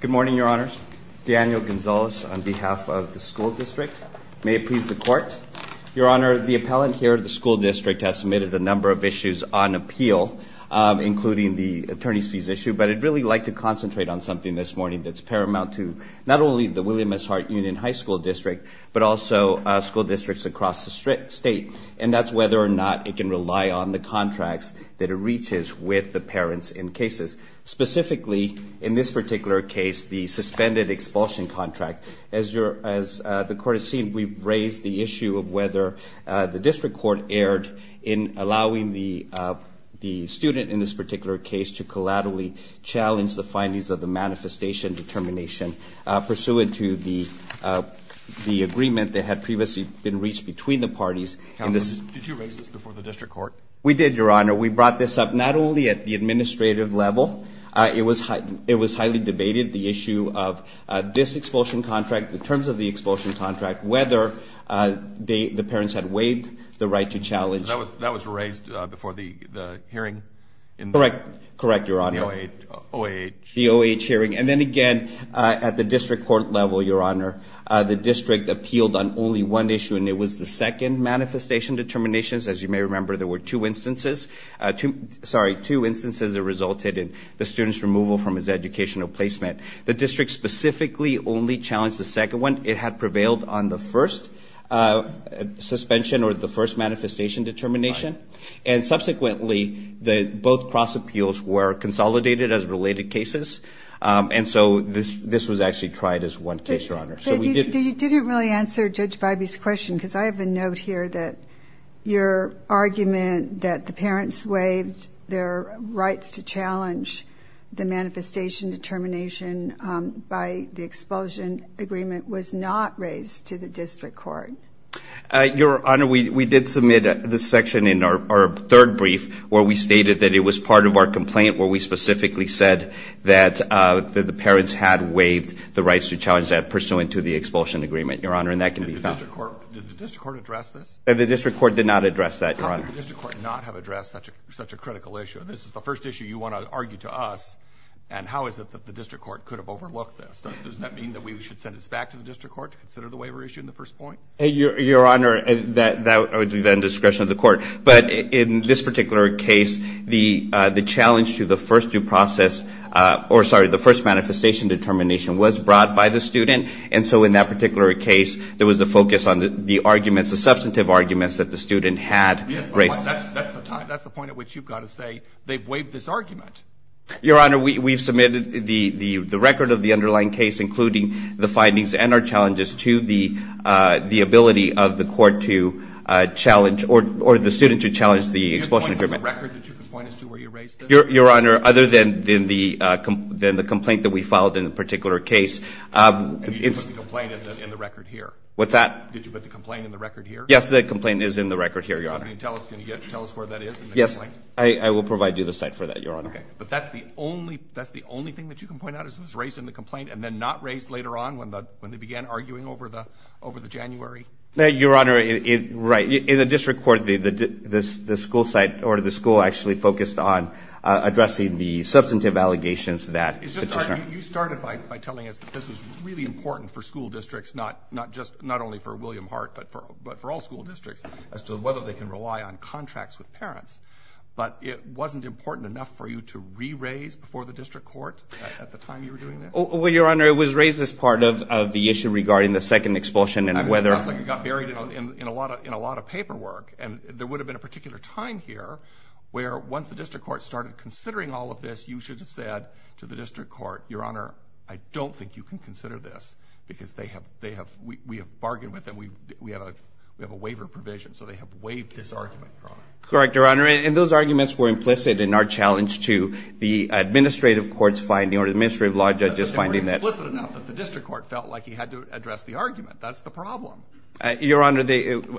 Good morning, Your Honors. Daniel Gonzalez on behalf of the school district. May it please the Court. Your Honor, the appellant here of the school district has submitted a number of issues on appeal, including the attorney's fees issue, but I'd really like to concentrate on something this morning that's paramount to not only the William S. Hart Union High School District, but also school districts across the state, and that's whether or not it can rely on the contracts that it reaches with the parents in case cases. Specifically, in this particular case, the suspended expulsion contract. As the Court has seen, we've raised the issue of whether the district court erred in allowing the student in this particular case to collaterally challenge the findings of the manifestation determination pursuant to the agreement that had previously been reached between the parties. Counsel, did you raise this before the district court? We did, Your Honor. We brought this up not only at the administrative level. It was highly debated, the issue of this expulsion contract, the terms of the expulsion contract, whether the parents had waived the right to challenge. That was raised before the hearing? Correct, Your Honor. The OAH hearing. And then again, at the district court level, Your Honor, the district appealed on only one issue, and it was the second manifestation determinations. As you may remember, there were two instances that resulted in the student's removal from his educational placement. The district specifically only challenged the second one. It had prevailed on the first suspension or the first manifestation determination. And subsequently, both cross appeals were consolidated as related cases, and so this was actually tried as one case, Your Honor. You didn't really answer Judge Bybee's question, because I have a note here that your argument that the parents waived their rights to challenge the manifestation determination by the expulsion agreement was not raised to the district court. Your Honor, we did submit this section in our third brief where we stated that it was part of our complaint where we specifically said that the parents had waived the rights to challenge that pursuant to the expulsion agreement, Your Honor, and that can be found. Did the district court address this? The district court did not address that, Your Honor. How could the district court not have addressed such a critical issue? This is the first issue you want to argue to us, and how is it that the district court could have overlooked this? Does that mean that we should send this back to the district court to consider the waiver issue in the first point? Your Honor, that would be the indiscretion of the court, but in this particular case, the challenge to the first due process, or sorry, the first manifestation determination was brought by the student, and so in that particular case, there was a focus on the arguments, the substantive arguments that the student had raised. Yes, but that's the point at which you've got to say they've waived this argument. Your Honor, we've submitted the record of the underlying case, including the findings and our challenges to the ability of the court to challenge, or the student to challenge the expulsion agreement. Do you have points in the record that you can point us to where you raised this? Your Honor, other than the complaint that we filed in the particular case. And you didn't put the complaint in the record here? What's that? Did you put the complaint in the record here? Yes, the complaint is in the record here, Your Honor. Can you tell us where that is in the complaint? Yes, I will provide you the site for that, Your Honor. Okay, but that's the only thing that you can point out is it was raised in the complaint and then not raised later on when they began arguing over the January? Your Honor, right. In the district court, the school site or the school actually focused on addressing the substantive allegations that the district court. You started by telling us that this was really important for school districts, not only for William Hart, but for all school districts as to whether they can rely on contracts with parents. But it wasn't important enough for you to re-raise before the district court at the time you were doing this? Well, Your Honor, it was raised as part of the issue regarding the second expulsion and whether – It sounds like it got buried in a lot of paperwork. And there would have been a particular time here where once the district court started considering all of this, you should have said to the district court, Your Honor, I don't think you can consider this because they have – we have bargained with them. We have a waiver provision. So they have waived this argument, Your Honor. Correct, Your Honor. And those arguments were implicit in our challenge to the administrative court's finding or the administrative law judge's finding that – But they were explicit enough that the district court felt like he had to address the argument. That's the problem. Your Honor,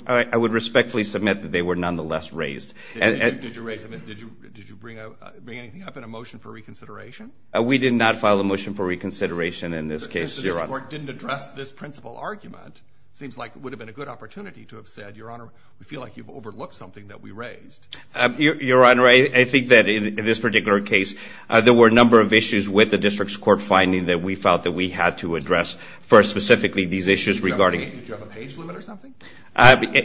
I would respectfully submit that they were nonetheless raised. Did you raise them? Did you bring anything up in a motion for reconsideration? We did not file a motion for reconsideration in this case, Your Honor. Since the district court didn't address this principal argument, it seems like it would have been a good opportunity to have said, Your Honor, we feel like you've overlooked something that we raised. Your Honor, I think that in this particular case, there were a number of issues with the district's court finding that we felt that we had to address. First, specifically, these issues regarding – Did you have a page limit or something?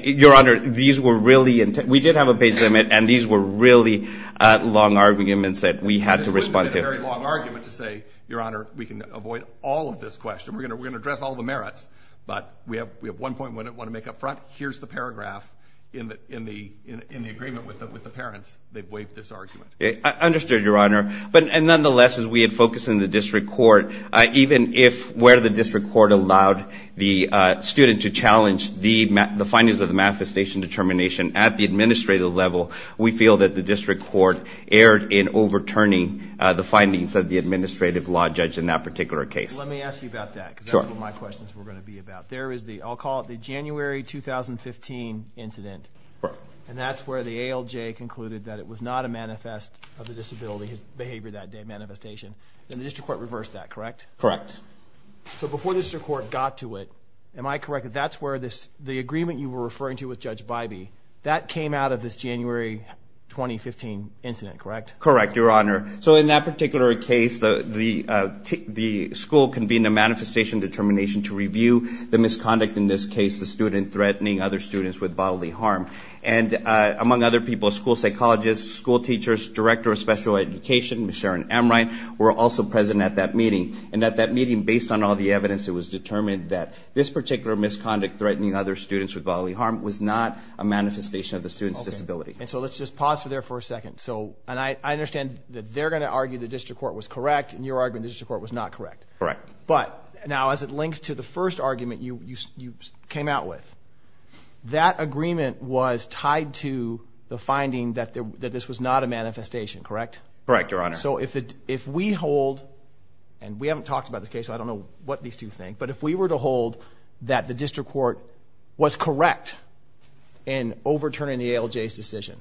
Your Honor, these were really – we did have a page limit, and these were really long arguments that we had to respond to. This wouldn't have been a very long argument to say, Your Honor, we can avoid all of this question. We're going to address all the merits, but we have one point we want to make up front. Here's the paragraph in the agreement with the parents that waived this argument. I understood, Your Honor, but nonetheless, as we had focused on the district court, even if where the district court allowed the student to challenge the findings of the manifestation determination at the administrative level, we feel that the district court erred in overturning the findings of the administrative law judge in that particular case. Let me ask you about that because that's what my questions were going to be about. There is the – I'll call it the January 2015 incident. And that's where the ALJ concluded that it was not a manifest of the disability behavior that day, manifestation. And the district court reversed that, correct? Correct. So before the district court got to it, am I correct that that's where this – the agreement you were referring to with Judge Bybee, that came out of this January 2015 incident, correct? Correct, Your Honor. So in that particular case, the school convened a manifestation determination to review the misconduct in this case, the student threatening other students with bodily harm. And among other people, school psychologists, school teachers, director of special education, Sharon Amright, were also present at that meeting. And at that meeting, based on all the evidence, it was determined that this particular misconduct threatening other students with bodily harm was not a manifestation of the student's disability. And so let's just pause for there for a second. So – and I understand that they're going to argue the district court was correct, and you're arguing the district court was not correct. Correct. But now, as it links to the first argument you came out with, that agreement was tied to the finding that this was not a manifestation, correct? Correct, Your Honor. So if we hold – and we haven't talked about this case, so I don't know what these two think – but if we were to hold that the district court was correct in overturning the ALJ's decision,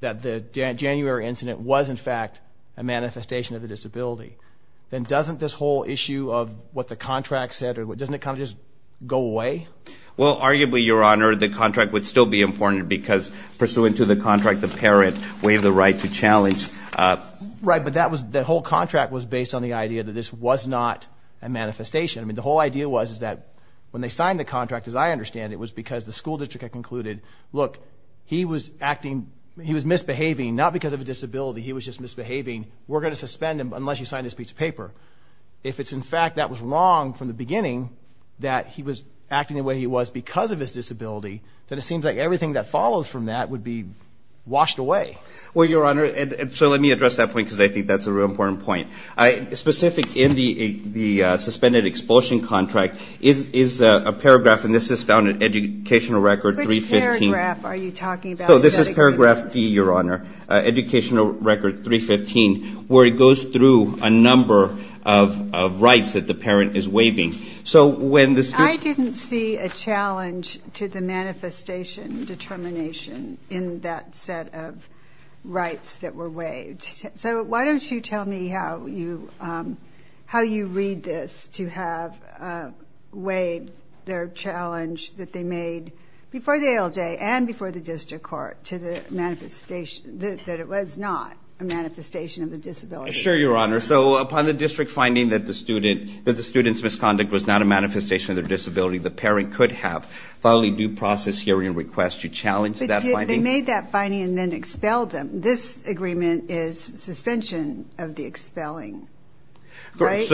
that the January incident was, in fact, a manifestation of the disability, then doesn't this whole issue of what the contract said – doesn't it kind of just go away? Well, arguably, Your Honor, the contract would still be important because pursuant to the contract, the parent waived the right to challenge. Right, but that was – the whole contract was based on the idea that this was not a manifestation. I mean, the whole idea was that when they signed the contract, as I understand it, it was because the school district had concluded, look, he was acting – he was misbehaving, not because of a disability. He was just misbehaving. We're going to suspend him unless you sign this piece of paper. If it's, in fact, that was wrong from the beginning, that he was acting the way he was because of his disability, then it seems like everything that follows from that would be washed away. Well, Your Honor, so let me address that point because I think that's a real important point. Specific in the suspended expulsion contract is a paragraph, and this is found in Educational Record 315. Which paragraph are you talking about? So this is paragraph D, Your Honor, Educational Record 315, where it goes through a number of rights that the parent is waiving. So when the school – I didn't see a challenge to the manifestation determination in that set of rights that were waived. So why don't you tell me how you read this to have waived their challenge that they made before the ALJ and before the district court to the manifestation that it was not a manifestation of the disability. Sure, Your Honor. So upon the district finding that the student's misconduct was not a manifestation of their disability, the parent could have followed a due process hearing request to challenge that finding. But they made that finding and then expelled them. This agreement is suspension of the expelling, right?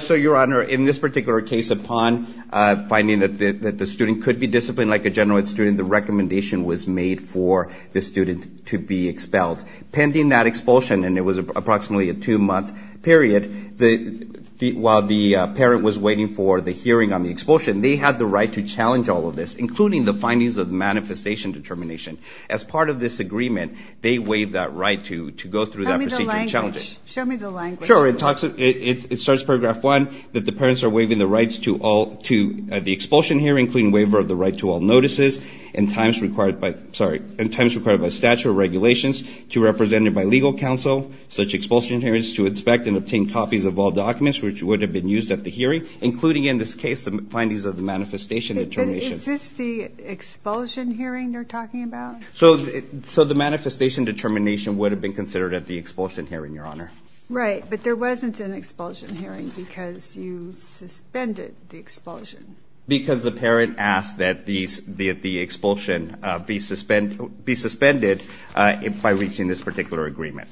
So, Your Honor, in this particular case, upon finding that the student could be disciplined like a general ed student, the recommendation was made for the student to be expelled. Pending that expulsion, and it was approximately a two-month period, while the parent was waiting for the hearing on the expulsion, they had the right to challenge all of this, including the findings of the manifestation determination. As part of this agreement, they waived that right to go through that procedure and challenge it. Show me the language. Sure. It starts paragraph one, that the parents are waiving the rights to the expulsion hearing, including waiver of the right to all notices and times required by statute or regulations to represent it by legal counsel. Such expulsion hearings to inspect and obtain copies of all documents which would have been used at the hearing, including in this case the findings of the manifestation determination. Is this the expulsion hearing they're talking about? So the manifestation determination would have been considered at the expulsion hearing, Your Honor. Right, but there wasn't an expulsion hearing because you suspended the expulsion. Because the parent asked that the expulsion be suspended by reaching this particular agreement.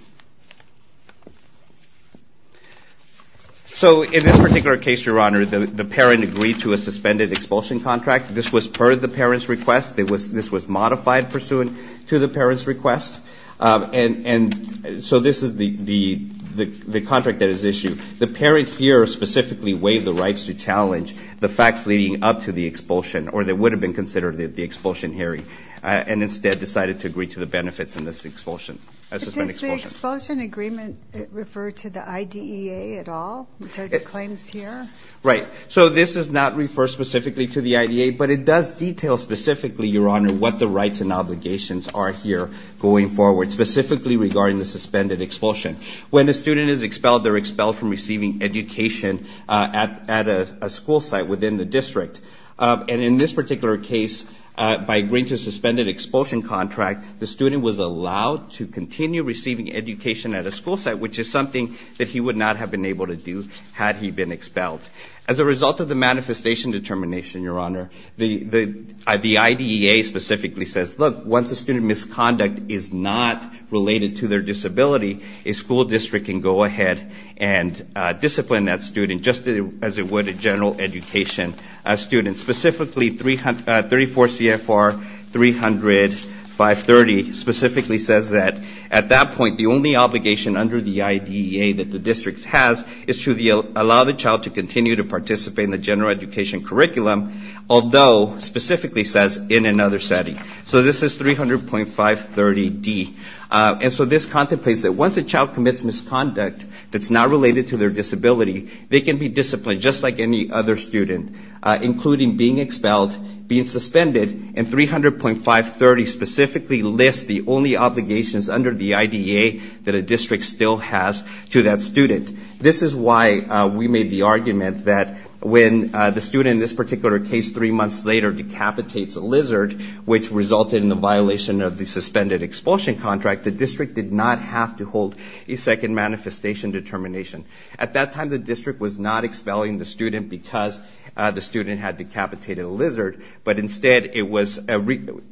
So in this particular case, Your Honor, the parent agreed to a suspended expulsion contract. This was part of the parent's request. This was modified pursuant to the parent's request. And so this is the contract that is issued. The parent here specifically waived the rights to challenge the facts leading up to the expulsion or that would have been considered at the expulsion hearing and instead decided to agree to the benefits in this suspended expulsion. Does the expulsion agreement refer to the IDEA at all, the claims here? Right. So this does not refer specifically to the IDEA, but it does detail specifically, Your Honor, what the rights and obligations are here going forward, specifically regarding the suspended expulsion. When a student is expelled, they're expelled from receiving education at a school site within the district. And in this particular case, by agreeing to a suspended expulsion contract, the student was allowed to continue receiving education at a school site, which is something that he would not have been able to do had he been expelled. As a result of the manifestation determination, Your Honor, the IDEA specifically says, look, once a student's misconduct is not related to their disability, a school district can go ahead and discipline that student just as it would a general education student. Specifically, 34 CFR 300-530 specifically says that at that point, the only obligation under the IDEA that the district has is to allow the child to continue to participate in the general education curriculum, although specifically says in another setting. So this is 300-530-D. And so this contemplates that once a child commits misconduct that's not related to their disability, they can be disciplined just like any other student, including being expelled, being suspended. And 300-530 specifically lists the only obligations under the IDEA that a district still has to that student. This is why we made the argument that when the student in this particular case three months later decapitates a lizard, which resulted in the violation of the suspended expulsion contract, the district did not have to hold a second manifestation determination. At that time, the district was not expelling the student because the student had decapitated a lizard, but instead it was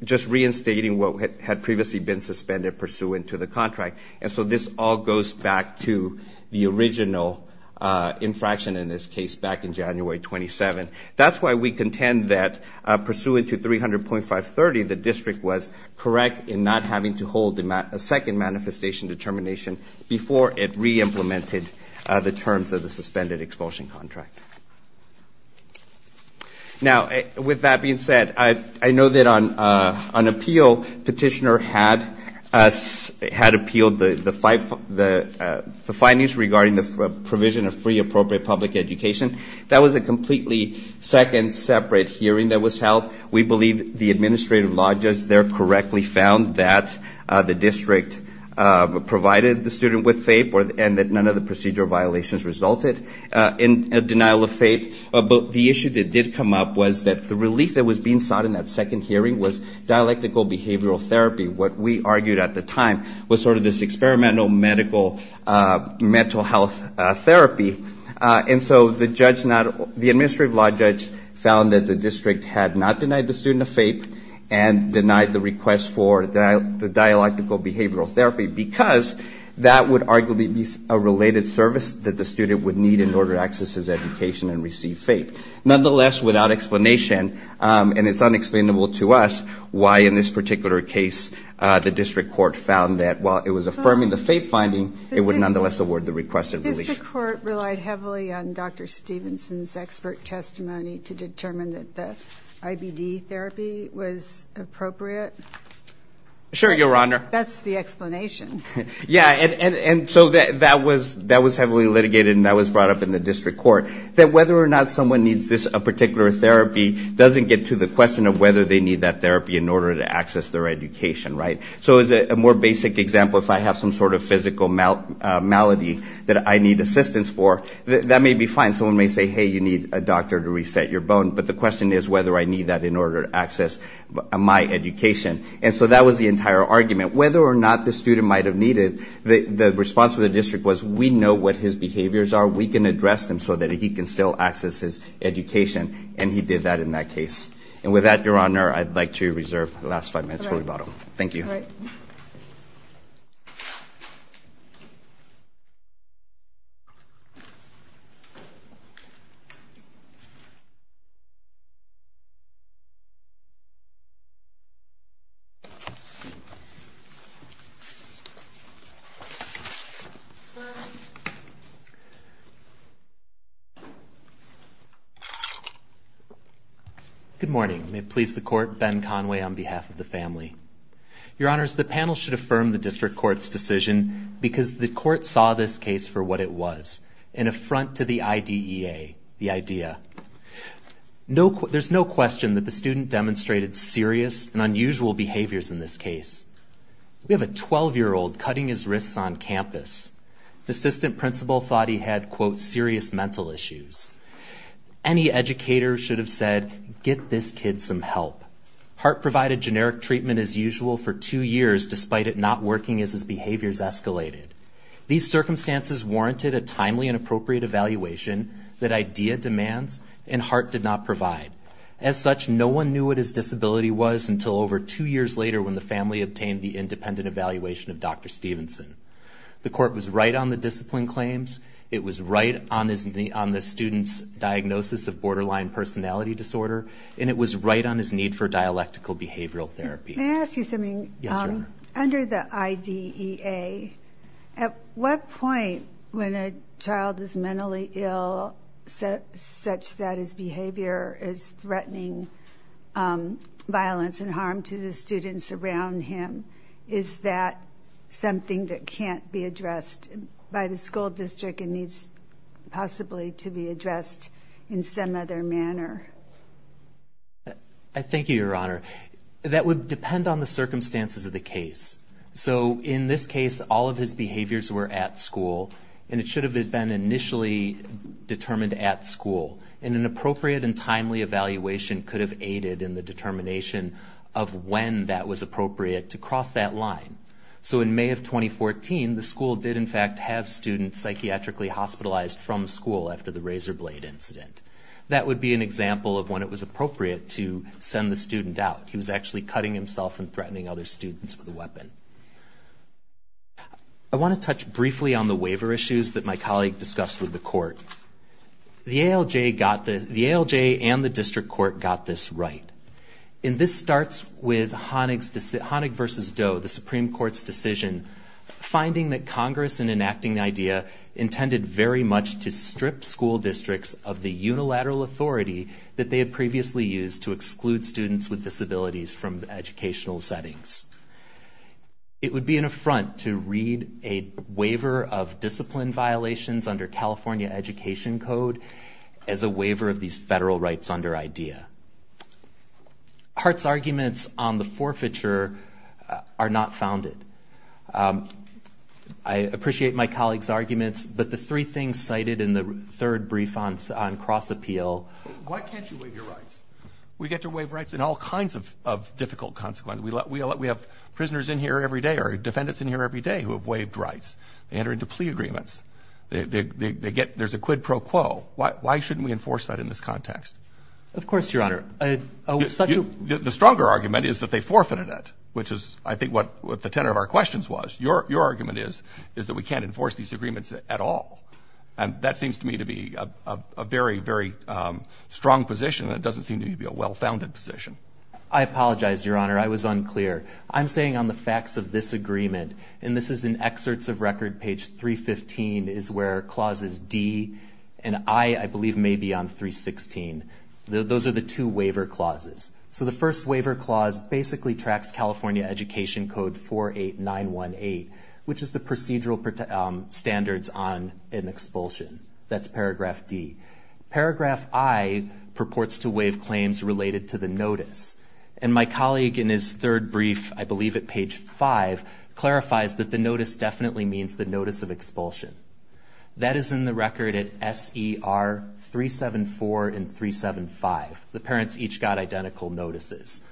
just reinstating what had previously been suspended pursuant to the contract. And so this all goes back to the original infraction in this case back in January 27. That's why we contend that pursuant to 300-530, the district was correct in not having to hold a second manifestation determination before it re-implemented the terms of the suspended expulsion contract. Now, with that being said, I know that on appeal, petitioner had appealed the findings regarding the provision of free appropriate public education. That was a completely second separate hearing that was held. We believe the administrative lodgers there correctly found that the district provided the student with FAPE and that none of the procedure violations resulted in a denial of FAPE. But the issue that did come up was that the relief that was being sought in that second hearing was dialectical behavioral therapy. What we argued at the time was sort of this experimental medical mental health therapy. And so the administrative law judge found that the district had not denied the student of FAPE and denied the request for the dialectical behavioral therapy because that would arguably be a related service that the student would need in order to access his education and receive FAPE. Nonetheless, without explanation, and it's unexplainable to us why in this particular case, the district court found that while it was affirming the FAPE finding, it would nonetheless award the requested relief. The district court relied heavily on Dr. Stevenson's expert testimony to determine that the IBD therapy was appropriate? Sure, Your Honor. That's the explanation. Yeah, and so that was heavily litigated and that was brought up in the district court. That whether or not someone needs this particular therapy doesn't get to the question of whether they need that therapy in order to access their education, right? So as a more basic example, if I have some sort of physical malady that I need assistance for, that may be fine. Someone may say, hey, you need a doctor to reset your bone, but the question is whether I need that in order to access my education. And so that was the entire argument. Whether or not the student might have needed, the response of the district was we know what his behaviors are. We can address them so that he can still access his education, and he did that in that case. And with that, Your Honor, I'd like to reserve the last five minutes for rebuttal. Thank you. All right. Good morning. May it please the court, Ben Conway on behalf of the family. Your Honors, the panel should affirm the district court's decision because the court saw this case for what it was, an affront to the IDEA, the idea. There's no question that the student demonstrated serious and unusual behaviors in this case. We have a 12-year-old cutting his wrists on campus. The assistant principal thought he had, quote, serious mental issues. Any educator should have said, get this kid some help. Hart provided generic treatment as usual for two years, despite it not working as his behaviors escalated. These circumstances warranted a timely and appropriate evaluation that IDEA demands, and Hart did not provide. As such, no one knew what his disability was until over two years later when the family obtained the independent evaluation of Dr. Stevenson. The court was right on the discipline claims. It was right on the student's diagnosis of borderline personality disorder, and it was right on his need for dialectical behavioral therapy. May I ask you something? Yes, Your Honor. Under the IDEA, at what point when a child is mentally ill such that his behavior is threatening violence and harm to the students around him, is that something that can't be addressed by the school district and needs possibly to be addressed in some other manner? I thank you, Your Honor. That would depend on the circumstances of the case. So in this case, all of his behaviors were at school, and it should have been initially determined at school. And an appropriate and timely evaluation could have aided in the determination of when that was appropriate to cross that line. So in May of 2014, the school did in fact have students psychiatrically hospitalized from school after the razor blade incident. That would be an example of when it was appropriate to send the student out. He was actually cutting himself and threatening other students with a weapon. I want to touch briefly on the waiver issues that my colleague discussed with the court. The ALJ and the district court got this right. And this starts with Honig v. Doe, the Supreme Court's decision, finding that Congress, in enacting the idea, intended very much to strip school districts of the unilateral authority that they had previously used to exclude students with disabilities from educational settings. It would be an affront to read a waiver of discipline violations under California Education Code as a waiver of these federal rights under IDEA. Hart's arguments on the forfeiture are not founded. I appreciate my colleague's arguments, but the three things cited in the third brief on cross appeal. Why can't you waive your rights? We get to waive rights in all kinds of difficult consequences. We have prisoners in here every day or defendants in here every day who have waived rights. They enter into plea agreements. There's a quid pro quo. Why shouldn't we enforce that in this context? Of course, Your Honor. The stronger argument is that they forfeited it, which is, I think, what the tenor of our questions was. Your argument is that we can't enforce these agreements at all. And that seems to me to be a very, very strong position. It doesn't seem to me to be a well-founded position. I apologize, Your Honor. I was unclear. I'm saying on the facts of this agreement, and this is in excerpts of record, page 315 is where clauses D and I, I believe, may be on 316. Those are the two waiver clauses. So the first waiver clause basically tracks California Education Code 48918, which is the procedural standards on an expulsion. That's paragraph D. Paragraph I purports to waive claims related to the notice. And my colleague in his third brief, I believe at page five, clarifies that the notice definitely means the notice of expulsion. That is in the record at SER 374 and 375. The parents each got identical notices.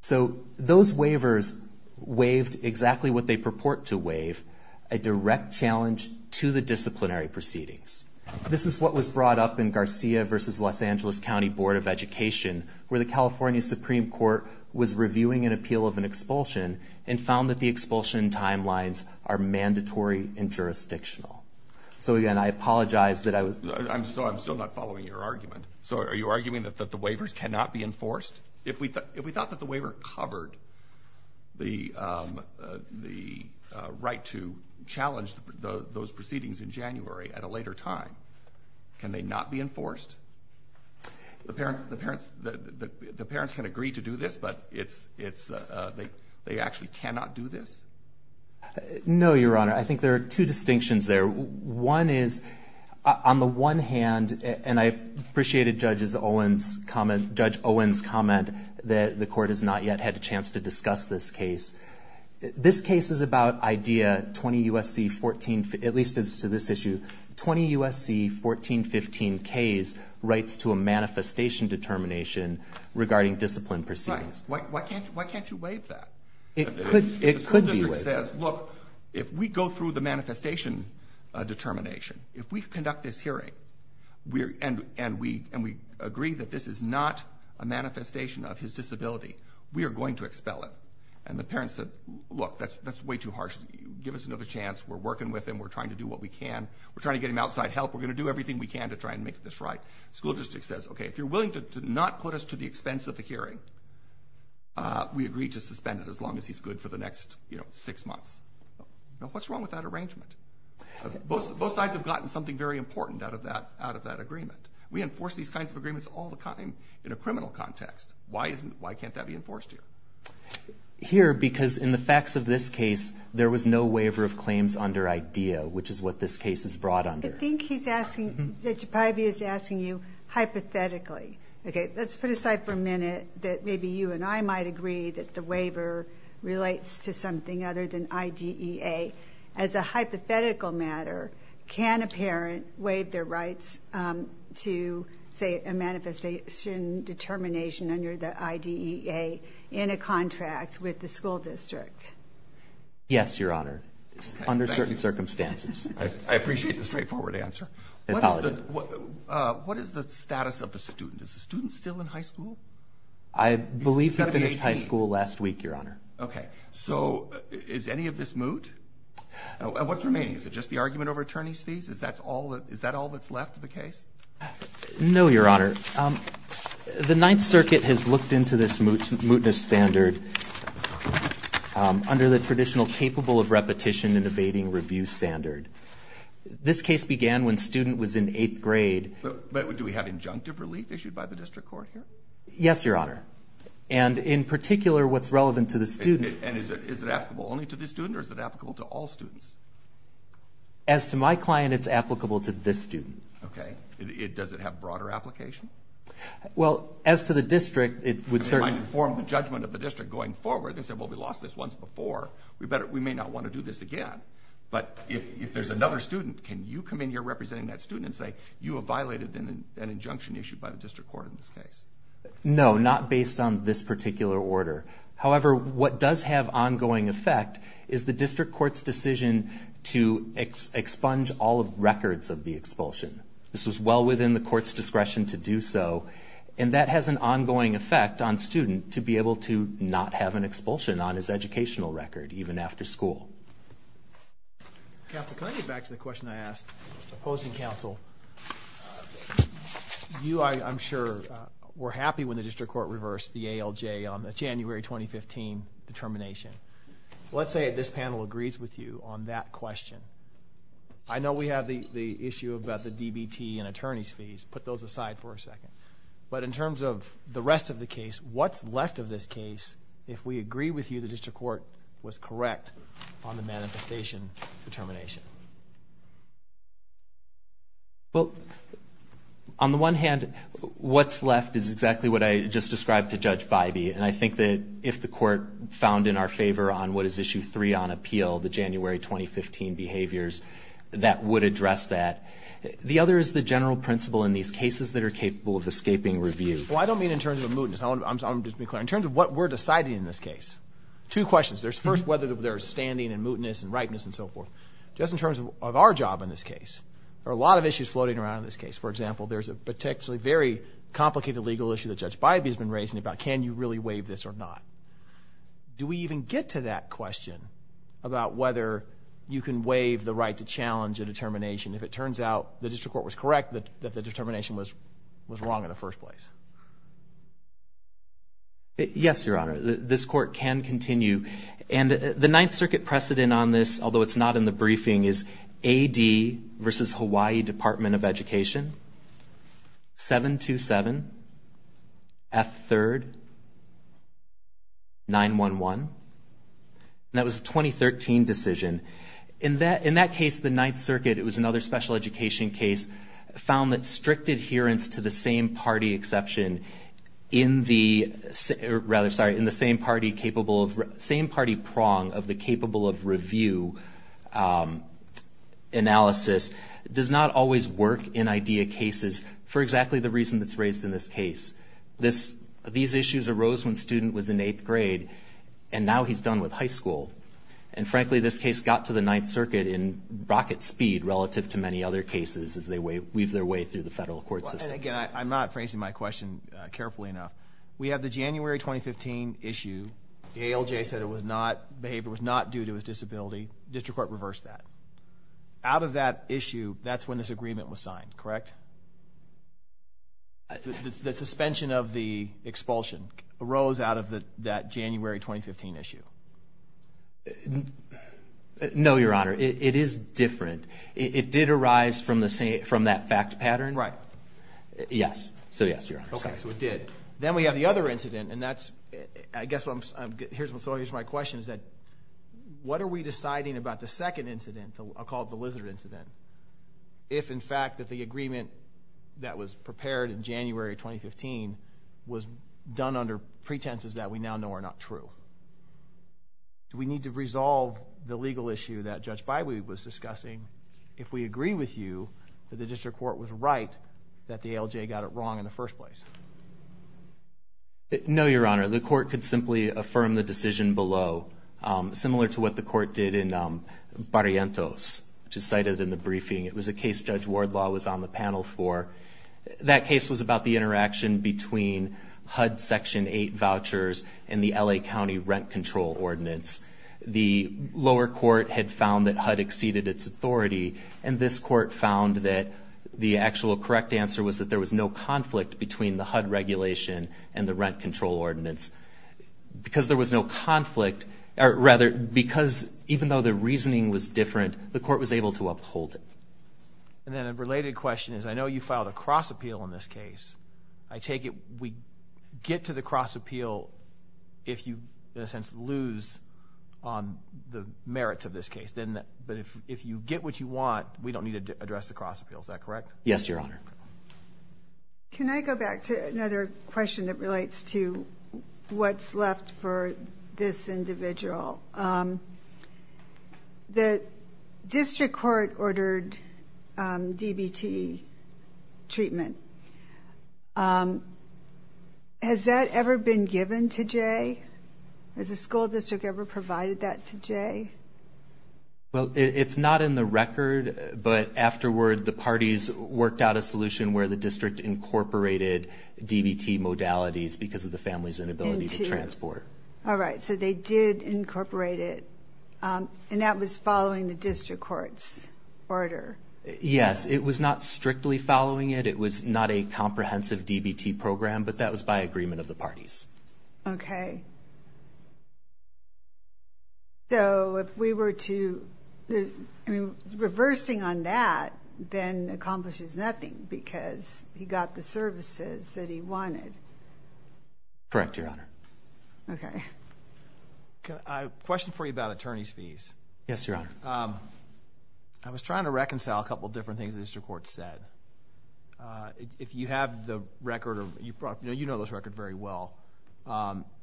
So those waivers waived exactly what they purport to waive, a direct challenge to the disciplinary proceedings. This is what was brought up in Garcia v. Los Angeles County Board of Education, where the California Supreme Court was reviewing an appeal of an expulsion and found that the expulsion timelines are mandatory and jurisdictional. So, again, I apologize that I was. So I'm still not following your argument. So are you arguing that the waivers cannot be enforced? If we thought that the waiver covered the right to challenge those proceedings in January at a later time, can they not be enforced? The parents can agree to do this, but they actually cannot do this? No, Your Honor. I think there are two distinctions there. One is, on the one hand, and I appreciated Judge Owen's comment that the Court has not yet had a chance to discuss this case. This case is about idea 20 U.S.C. 1415. At least as to this issue, 20 U.S.C. 1415-K's rights to a manifestation determination regarding discipline proceedings. Right. Why can't you waive that? It could be waived. If the school district says, look, if we go through the manifestation determination, if we conduct this hearing and we agree that this is not a way too harsh, give us another chance. We're working with him. We're trying to do what we can. We're trying to get him outside help. We're going to do everything we can to try and make this right. The school district says, okay, if you're willing to not put us to the expense of the hearing, we agree to suspend it as long as he's good for the next six months. Now, what's wrong with that arrangement? Both sides have gotten something very important out of that agreement. We enforce these kinds of agreements all the time in a criminal context. Why can't that be enforced here? Here, because in the facts of this case, there was no waiver of claims under IDEA, which is what this case is brought under. I think he's asking you hypothetically. Let's put aside for a minute that maybe you and I might agree that the waiver relates to something other than IDEA. As a hypothetical matter, can a parent waive their rights to, say, a contract with the school district? Yes, Your Honor, under certain circumstances. I appreciate the straightforward answer. What is the status of the student? Is the student still in high school? I believe he finished high school last week, Your Honor. Okay. So is any of this moot? What's remaining? Is it just the argument over attorney's fees? Is that all that's left of the case? No, Your Honor. The Ninth Circuit has looked into this mootness standard under the traditional capable of repetition and abating review standard. This case began when student was in eighth grade. But do we have injunctive relief issued by the district court here? Yes, Your Honor. And in particular, what's relevant to the student. And is it applicable only to this student or is it applicable to all students? As to my client, it's applicable to this student. Okay. Does it have broader application? Well, as to the district, it would certainly be. I informed the judgment of the district going forward. They said, well, we lost this once before. We may not want to do this again. But if there's another student, can you come in here representing that student and say you have violated an injunction issued by the district court in this case? No, not based on this particular order. However, what does have ongoing effect is the district court's decision to expunge all of records of the expulsion. This was well within the court's discretion to do so. And that has an ongoing effect on student to be able to not have an expulsion on his educational record, even after school. Counsel, can I get back to the question I asked opposing counsel? You, I'm sure, were happy when the district court reversed the ALJ on the January 2015 determination. Let's say this panel agrees with you on that question. I know we have the issue about the DBT and attorney's fees. Put those aside for a second. But in terms of the rest of the case, what's left of this case if we agree with you the district court was correct on the manifestation determination? Well, on the one hand, what's left is exactly what I just described to Judge Bybee. And I think that if the court found in our favor on what is issue three on that would address that. The other is the general principle in these cases that are capable of escaping review. Well, I don't mean in terms of a mootness. I want to be clear. In terms of what we're deciding in this case, two questions. There's first whether there's standing and mootness and rightness and so forth. Just in terms of our job in this case, there are a lot of issues floating around in this case. For example, there's a particularly very complicated legal issue that Judge Bybee has been raising about can you really waive this or not. Do we even get to that question about whether you can waive the right to challenge a determination if it turns out the district court was correct that the determination was wrong in the first place? Yes, Your Honor. This court can continue. And the Ninth Circuit precedent on this, although it's not in the briefing, is AD versus Hawaii Department of Education, 727, F3rd, 911. And that was a 2013 decision. In that case, the Ninth Circuit, it was another special education case, found that strict adherence to the same party exception in the same party prong of the analysis does not always work in IDEA cases for exactly the reason that's raised in this case. These issues arose when the student was in eighth grade, and now he's done with high school. And frankly, this case got to the Ninth Circuit in rocket speed relative to many other cases as they weave their way through the federal court system. Again, I'm not phrasing my question carefully enough. We have the January 2015 issue. The ALJ said it was not due to his disability. District Court reversed that. Out of that issue, that's when this agreement was signed, correct? The suspension of the expulsion arose out of that January 2015 issue. No, Your Honor. It is different. It did arise from that fact pattern. Right. Yes. So yes, Your Honor. Okay, so it did. Then we have the other incident, and that's, I guess what I'm, here's my question, is that what are we deciding about the second incident, I'll call it the lizard incident, if in fact that the agreement that was prepared in January 2015 was done under pretenses that we now know are not true? Do we need to resolve the legal issue that Judge Bywood was discussing if we agree with you that the District Court was right that the ALJ got it wrong in the first place? No, Your Honor. The Court could simply affirm the decision below, similar to what the Court did in Barrientos, which is cited in the briefing. It was a case Judge Wardlaw was on the panel for. That case was about the interaction between HUD Section 8 vouchers and the L.A. County Rent Control Ordinance. The lower court had found that HUD exceeded its authority, and this court found that the actual correct answer was that there was no conflict between the two states. Because there was no conflict, or rather, because even though the reasoning was different, the court was able to uphold it. And then a related question is, I know you filed a cross appeal in this case. I take it we get to the cross appeal if you, in a sense, lose on the merits of this case, but if you get what you want, we don't need to address the cross appeal, is that correct? Yes, Your Honor. Can I go back to another question that relates to what's left for this individual? The district court ordered DBT treatment. Has that ever been given to Jay? Well, it's not in the record, but afterward, the parties worked out a solution where the district incorporated DBT modalities because of the family's inability to transport. All right, so they did incorporate it, and that was following the district court's order. Yes, it was not strictly following it. It was not a comprehensive DBT program, but that was by agreement of the parties. Okay. So, if we were to... I mean, reversing on that then accomplishes nothing because he got the services that he wanted. Correct, Your Honor. Okay. I have a question for you about attorney's fees. Yes, Your Honor. I was trying to reconcile a couple of different things the district court said. If you have the record, you know this record very well.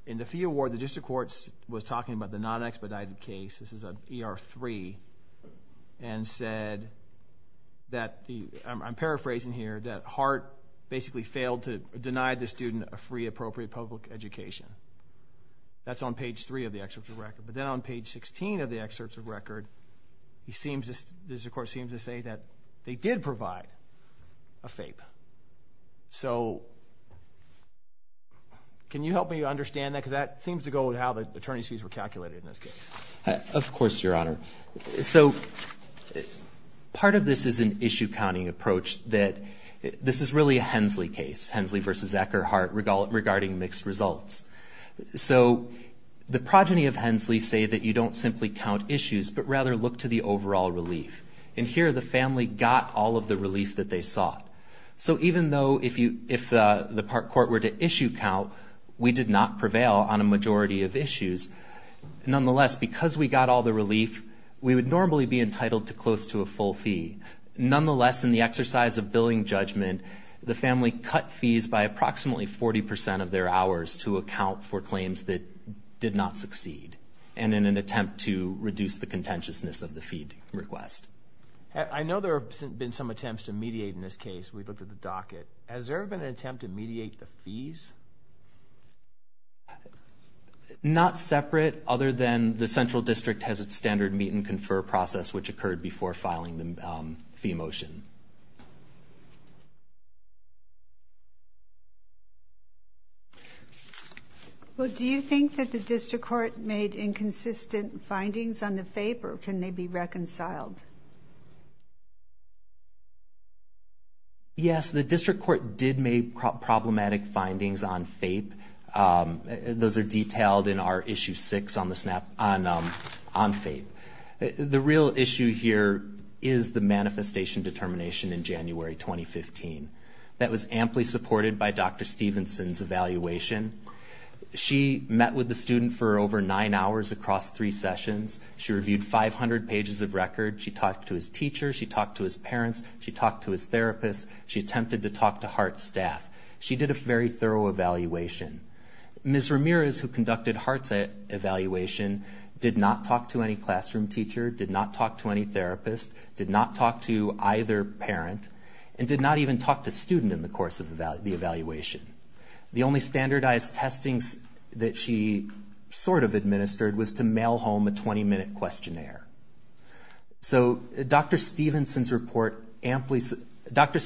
In the fee award, the district court was talking about the non-expedited case. This is an ER-3, and said that... I'm paraphrasing here, that Hart basically failed to deny the student a free, appropriate public education. That's on page 3 of the excerpt of the record. But then on page 16 of the excerpt of the record, the district court seems to say that they did provide a FAPE. So, can you help me understand that? Because that seems to go with how the attorney's fees were calculated in this case. Of course, Your Honor. So, part of this is an issue-counting approach that... this is really a Hensley case, Hensley v. Eckerhart, regarding mixed results. So, the progeny of Hensley say that you don't simply count issues, but rather look to the overall relief. And here, the family got all of the relief that they sought. So, even though if the park court were to issue count, we did not prevail on a majority of issues. Nonetheless, because we got all the relief, we would normally be entitled to close to a full fee. Nonetheless, in the exercise of billing judgment, the family cut fees by approximately 40 percent of their hours to account for claims that did not succeed, and in an attempt to reduce the contentiousness of the fee request. I know there have been some attempts to mediate in this case. We looked at the docket. Has there ever been an attempt to mediate the fees? Not separate, other than the central district has its standard meet and confer process, which occurred before filing the fee motion. Well, do you think that the district court made inconsistent findings on the favor? Can they be reconciled? Yes, the district court did make problematic findings on FAPE. Those are detailed in our issue six on FAPE. The real issue here is the manifestation determination in January 2015. That was amply supported by Dr. Stevenson's evaluation. She met with the student for over nine hours across three sessions. She reviewed 500 pages of record. She talked to his teacher. She talked to his parents. She talked to his therapist. She attempted to talk to Hart's staff. She did a very thorough evaluation. Ms. Ramirez, who conducted Hart's evaluation, did not talk to any classroom teacher, did not talk to any therapist, did not talk to either parent, and did not even talk to a student in the course of the evaluation. The only standardized testings that she sort of administered was to mail home a 20-minute questionnaire. So Dr. Stevenson's report amply supports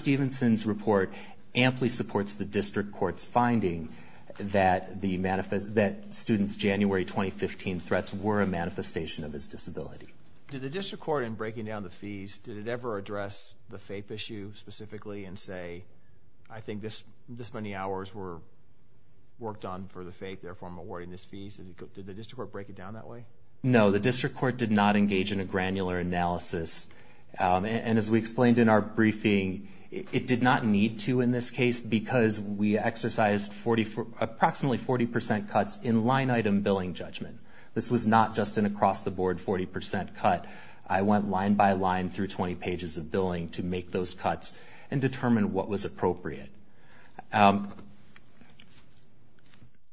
the district court's finding that students' January 2015 threats were a manifestation of his disability. Did the district court, in breaking down the fees, did it ever address the FAPE issue specifically and say, I think this many hours were worked on for the FAPE, therefore I'm awarding this fee? Did the district court break it down that way? No, the district court did not engage in a granular analysis. And as we explained in our briefing, it did not need to in this case because we exercised approximately 40% cuts in line-item billing judgment. This was not just an across-the-board 40% cut. I went line by line through 20 pages of billing to make those cuts and determine what was appropriate.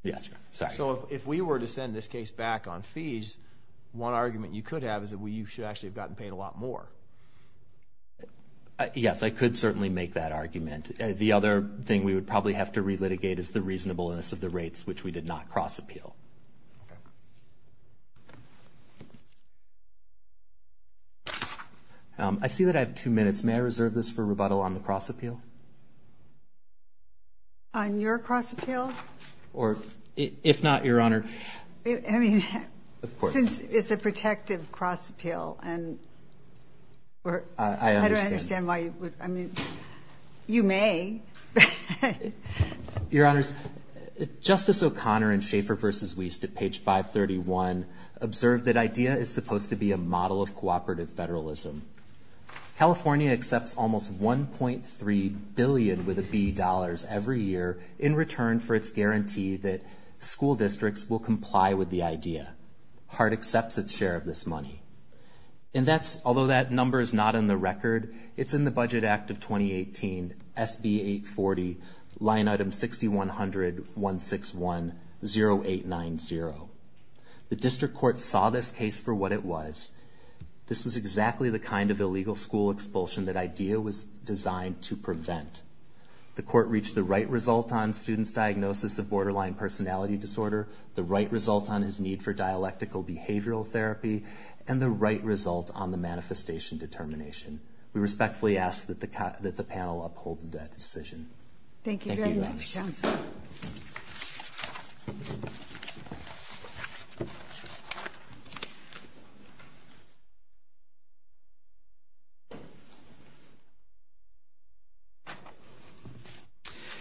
Yes, sorry. So if we were to send this case back on fees, one argument you could have is that you should actually have gotten paid a lot more. Yes, I could certainly make that argument. The other thing we would probably have to relitigate is the reasonableness of the rates, which we did not cross-appeal. I see that I have two minutes. May I reserve this for rebuttal on the cross-appeal? On your cross-appeal? Or if not, Your Honor. I mean, since it's a protective cross-appeal, and I don't understand why you would- I understand. I mean, you may. Your Honors, Justice O'Connor in Schaeffer v. Wiest at page 531 observed that IDEA is supposed to be a model of cooperative federalism. California accepts almost $1.3 billion, with a B, dollars every year in return for its guarantee that school districts will comply with the IDEA. HART accepts its share of this money. And that's- although that number is not in the record, it's in the Budget Act of 2018, SB 840, line item 6100-161-0890. The district court saw this case for what it was. This was exactly the kind of illegal school expulsion that IDEA was designed to prevent. The court reached the right result on students' diagnosis of borderline personality disorder, the right result on his need for dialectical behavioral therapy, and the right result on the manifestation determination. We respectfully ask that the panel uphold that decision. Thank you very much, counsel.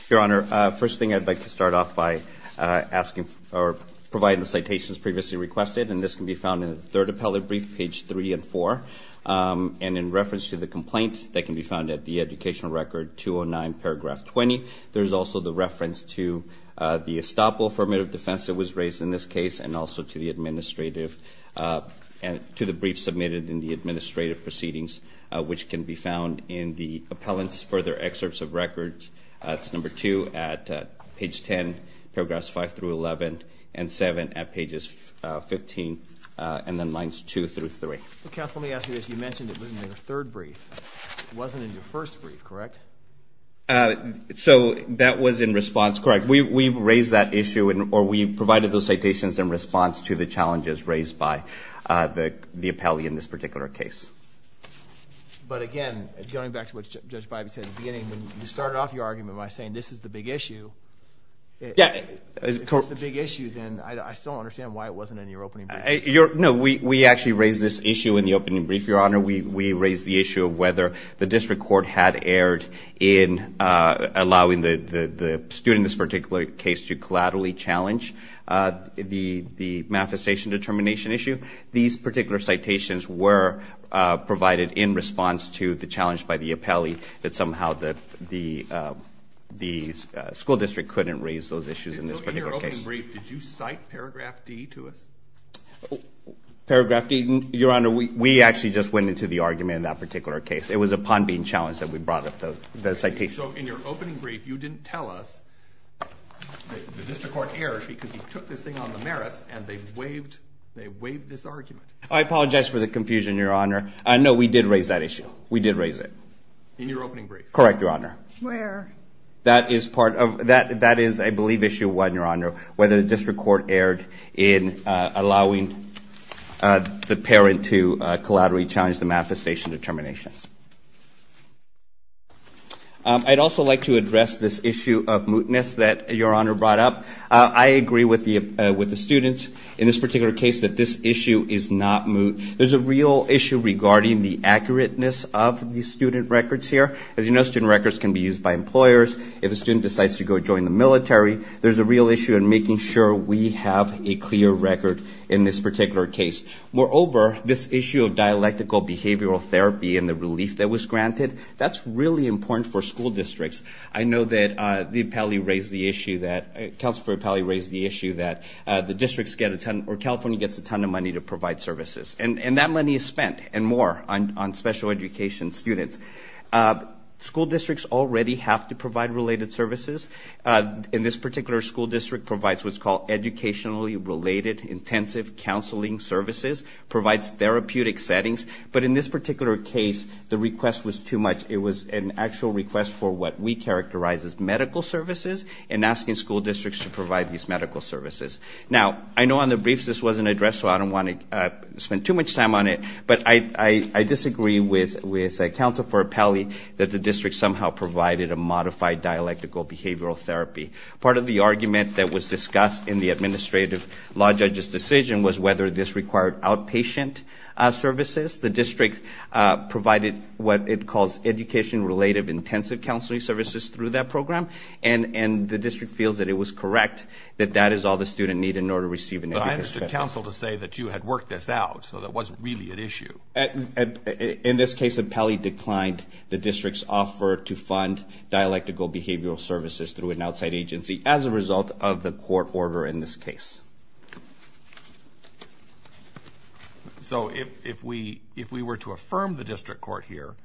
Your Honor, first thing I'd like to start off by asking- or providing the citations previously requested, and this can be found in the third appellate brief, page 3 and 4. And in reference to the complaint, that can be found at the educational record 209, paragraph 20. There's also the reference to the estoppel affirmative defense that was raised in this case, and also to the administrative- to the budget report. There's also a brief submitted in the administrative proceedings, which can be found in the appellant's further excerpts of records. It's number 2 at page 10, paragraphs 5 through 11, and 7 at pages 15, and then lines 2 through 3. Counsel, let me ask you this. You mentioned it was in your third brief. It wasn't in your first brief, correct? So that was in response, correct. We raised that issue, or we provided those citations in response to the challenges raised by the appellee in this particular case. But again, going back to what Judge Bybee said at the beginning, when you started off your argument by saying this is the big issue, if it's the big issue, then I still don't understand why it wasn't in your opening brief. No, we actually raised this issue in the opening brief, Your Honor. We raised the issue of whether the district court had erred in allowing the student in this particular case to collaterally challenge the manifestation determination issue. These particular citations were provided in response to the challenge by the appellee that somehow the school district couldn't raise those issues in this particular case. So in your opening brief, did you cite paragraph D to us? Paragraph D? Your Honor, we actually just went into the argument in that particular case. It was upon being challenged that we brought up the citation. So in your opening brief, you didn't tell us the district court erred because you took this thing on the merits and they waived this argument? I apologize for the confusion, Your Honor. No, we did raise that issue. We did raise it. In your opening brief? Correct, Your Honor. Where? That is, I believe, issue one, Your Honor, whether the district court erred in allowing the parent to collaterally challenge the manifestation determination. I'd also like to address this issue of mootness that Your Honor brought up. I agree with the students in this particular case that this issue is not moot. There's a real issue regarding the accurateness of the student records here. As you know, student records can be used by employers. If a student decides to go join the military, there's a real issue in making sure we have a clear record in this particular case. Moreover, this issue of dialectical behavioral therapy and the relief that was granted, that's really important for school districts. I know that the appellee raised the issue that the districts get a ton or California gets a ton of money to provide services. And that money is spent and more on special education students. School districts already have to provide related services. And this particular school district provides what's called educationally related intensive counseling services, provides therapeutic settings. But in this particular case, the request was too much. It was an actual request for what we characterize as medical services and asking school districts to provide these medical services. Now, I know on the briefs this wasn't addressed, so I don't want to spend too much time on it. But I disagree with counsel for appellee that the district somehow provided a modified dialectical behavioral therapy. Part of the argument that was discussed in the administrative law judge's decision was whether this required outpatient services. The district provided what it calls education-related intensive counseling services through that program. And the district feels that it was correct that that is all the student needed in order to receive an education. But I understood counsel to say that you had worked this out, so that wasn't really an issue. In this case, appellee declined the district's offer to fund dialectical behavioral services through an outside agency as a result of the court order in this case. So if we were to affirm the district court here,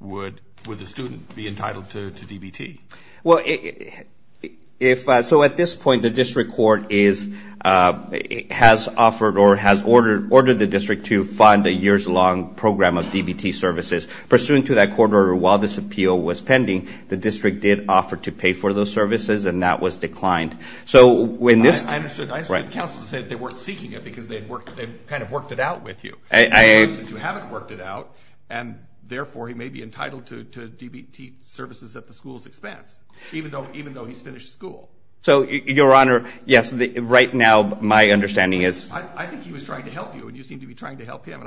would the student be entitled to DBT? Well, so at this point, the district court has offered or has ordered the district to fund a years-long program of DBT services. Pursuant to that court order, while this appeal was pending, the district did offer to pay for those services, and that was declined. I understood counsel said they weren't seeking it because they kind of worked it out with you. I understand you haven't worked it out, and therefore he may be entitled to DBT services at the school's expense, even though he's finished school. So, Your Honor, yes, right now my understanding is... I think he was trying to help you, and you seem to be trying to help him.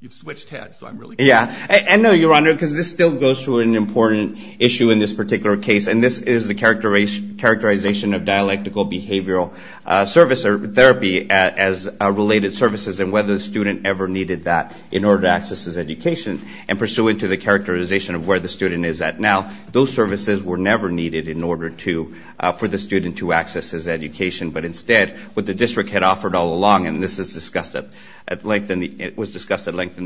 You've switched heads, so I'm really confused. Yeah, and no, Your Honor, because this still goes to an important issue in this particular case, and this is the characterization of dialectical behavioral therapy as related services, and whether the student ever needed that in order to access his education. And pursuant to the characterization of where the student is at now, those services were never needed in order for the student to access his education. But instead, what the district had offered all along, and this was discussed at length in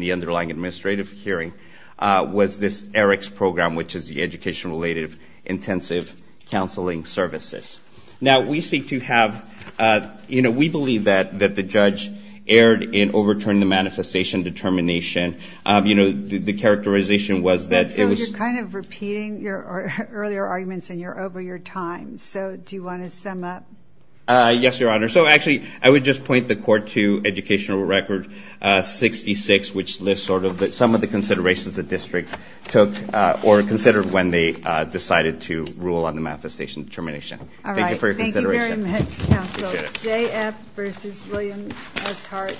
the underlying administrative hearing, was this ERICS program, which is the Education Related Intensive Counseling Services. Now, we seek to have, you know, we believe that the judge erred in overturning the manifestation determination. You know, the characterization was that it was... So you're kind of repeating your earlier arguments, and you're over your time. So do you want to sum up? Yes, Your Honor. So actually, I would just point the court to Educational Record 66, which lists sort of some of the considerations the district took or considered when they decided to rule on the manifestation determination. All right. Thank you for your consideration. Thank you very much, counsel. J.F. versus William S. Hart,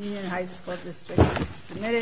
Union High School District, submitted.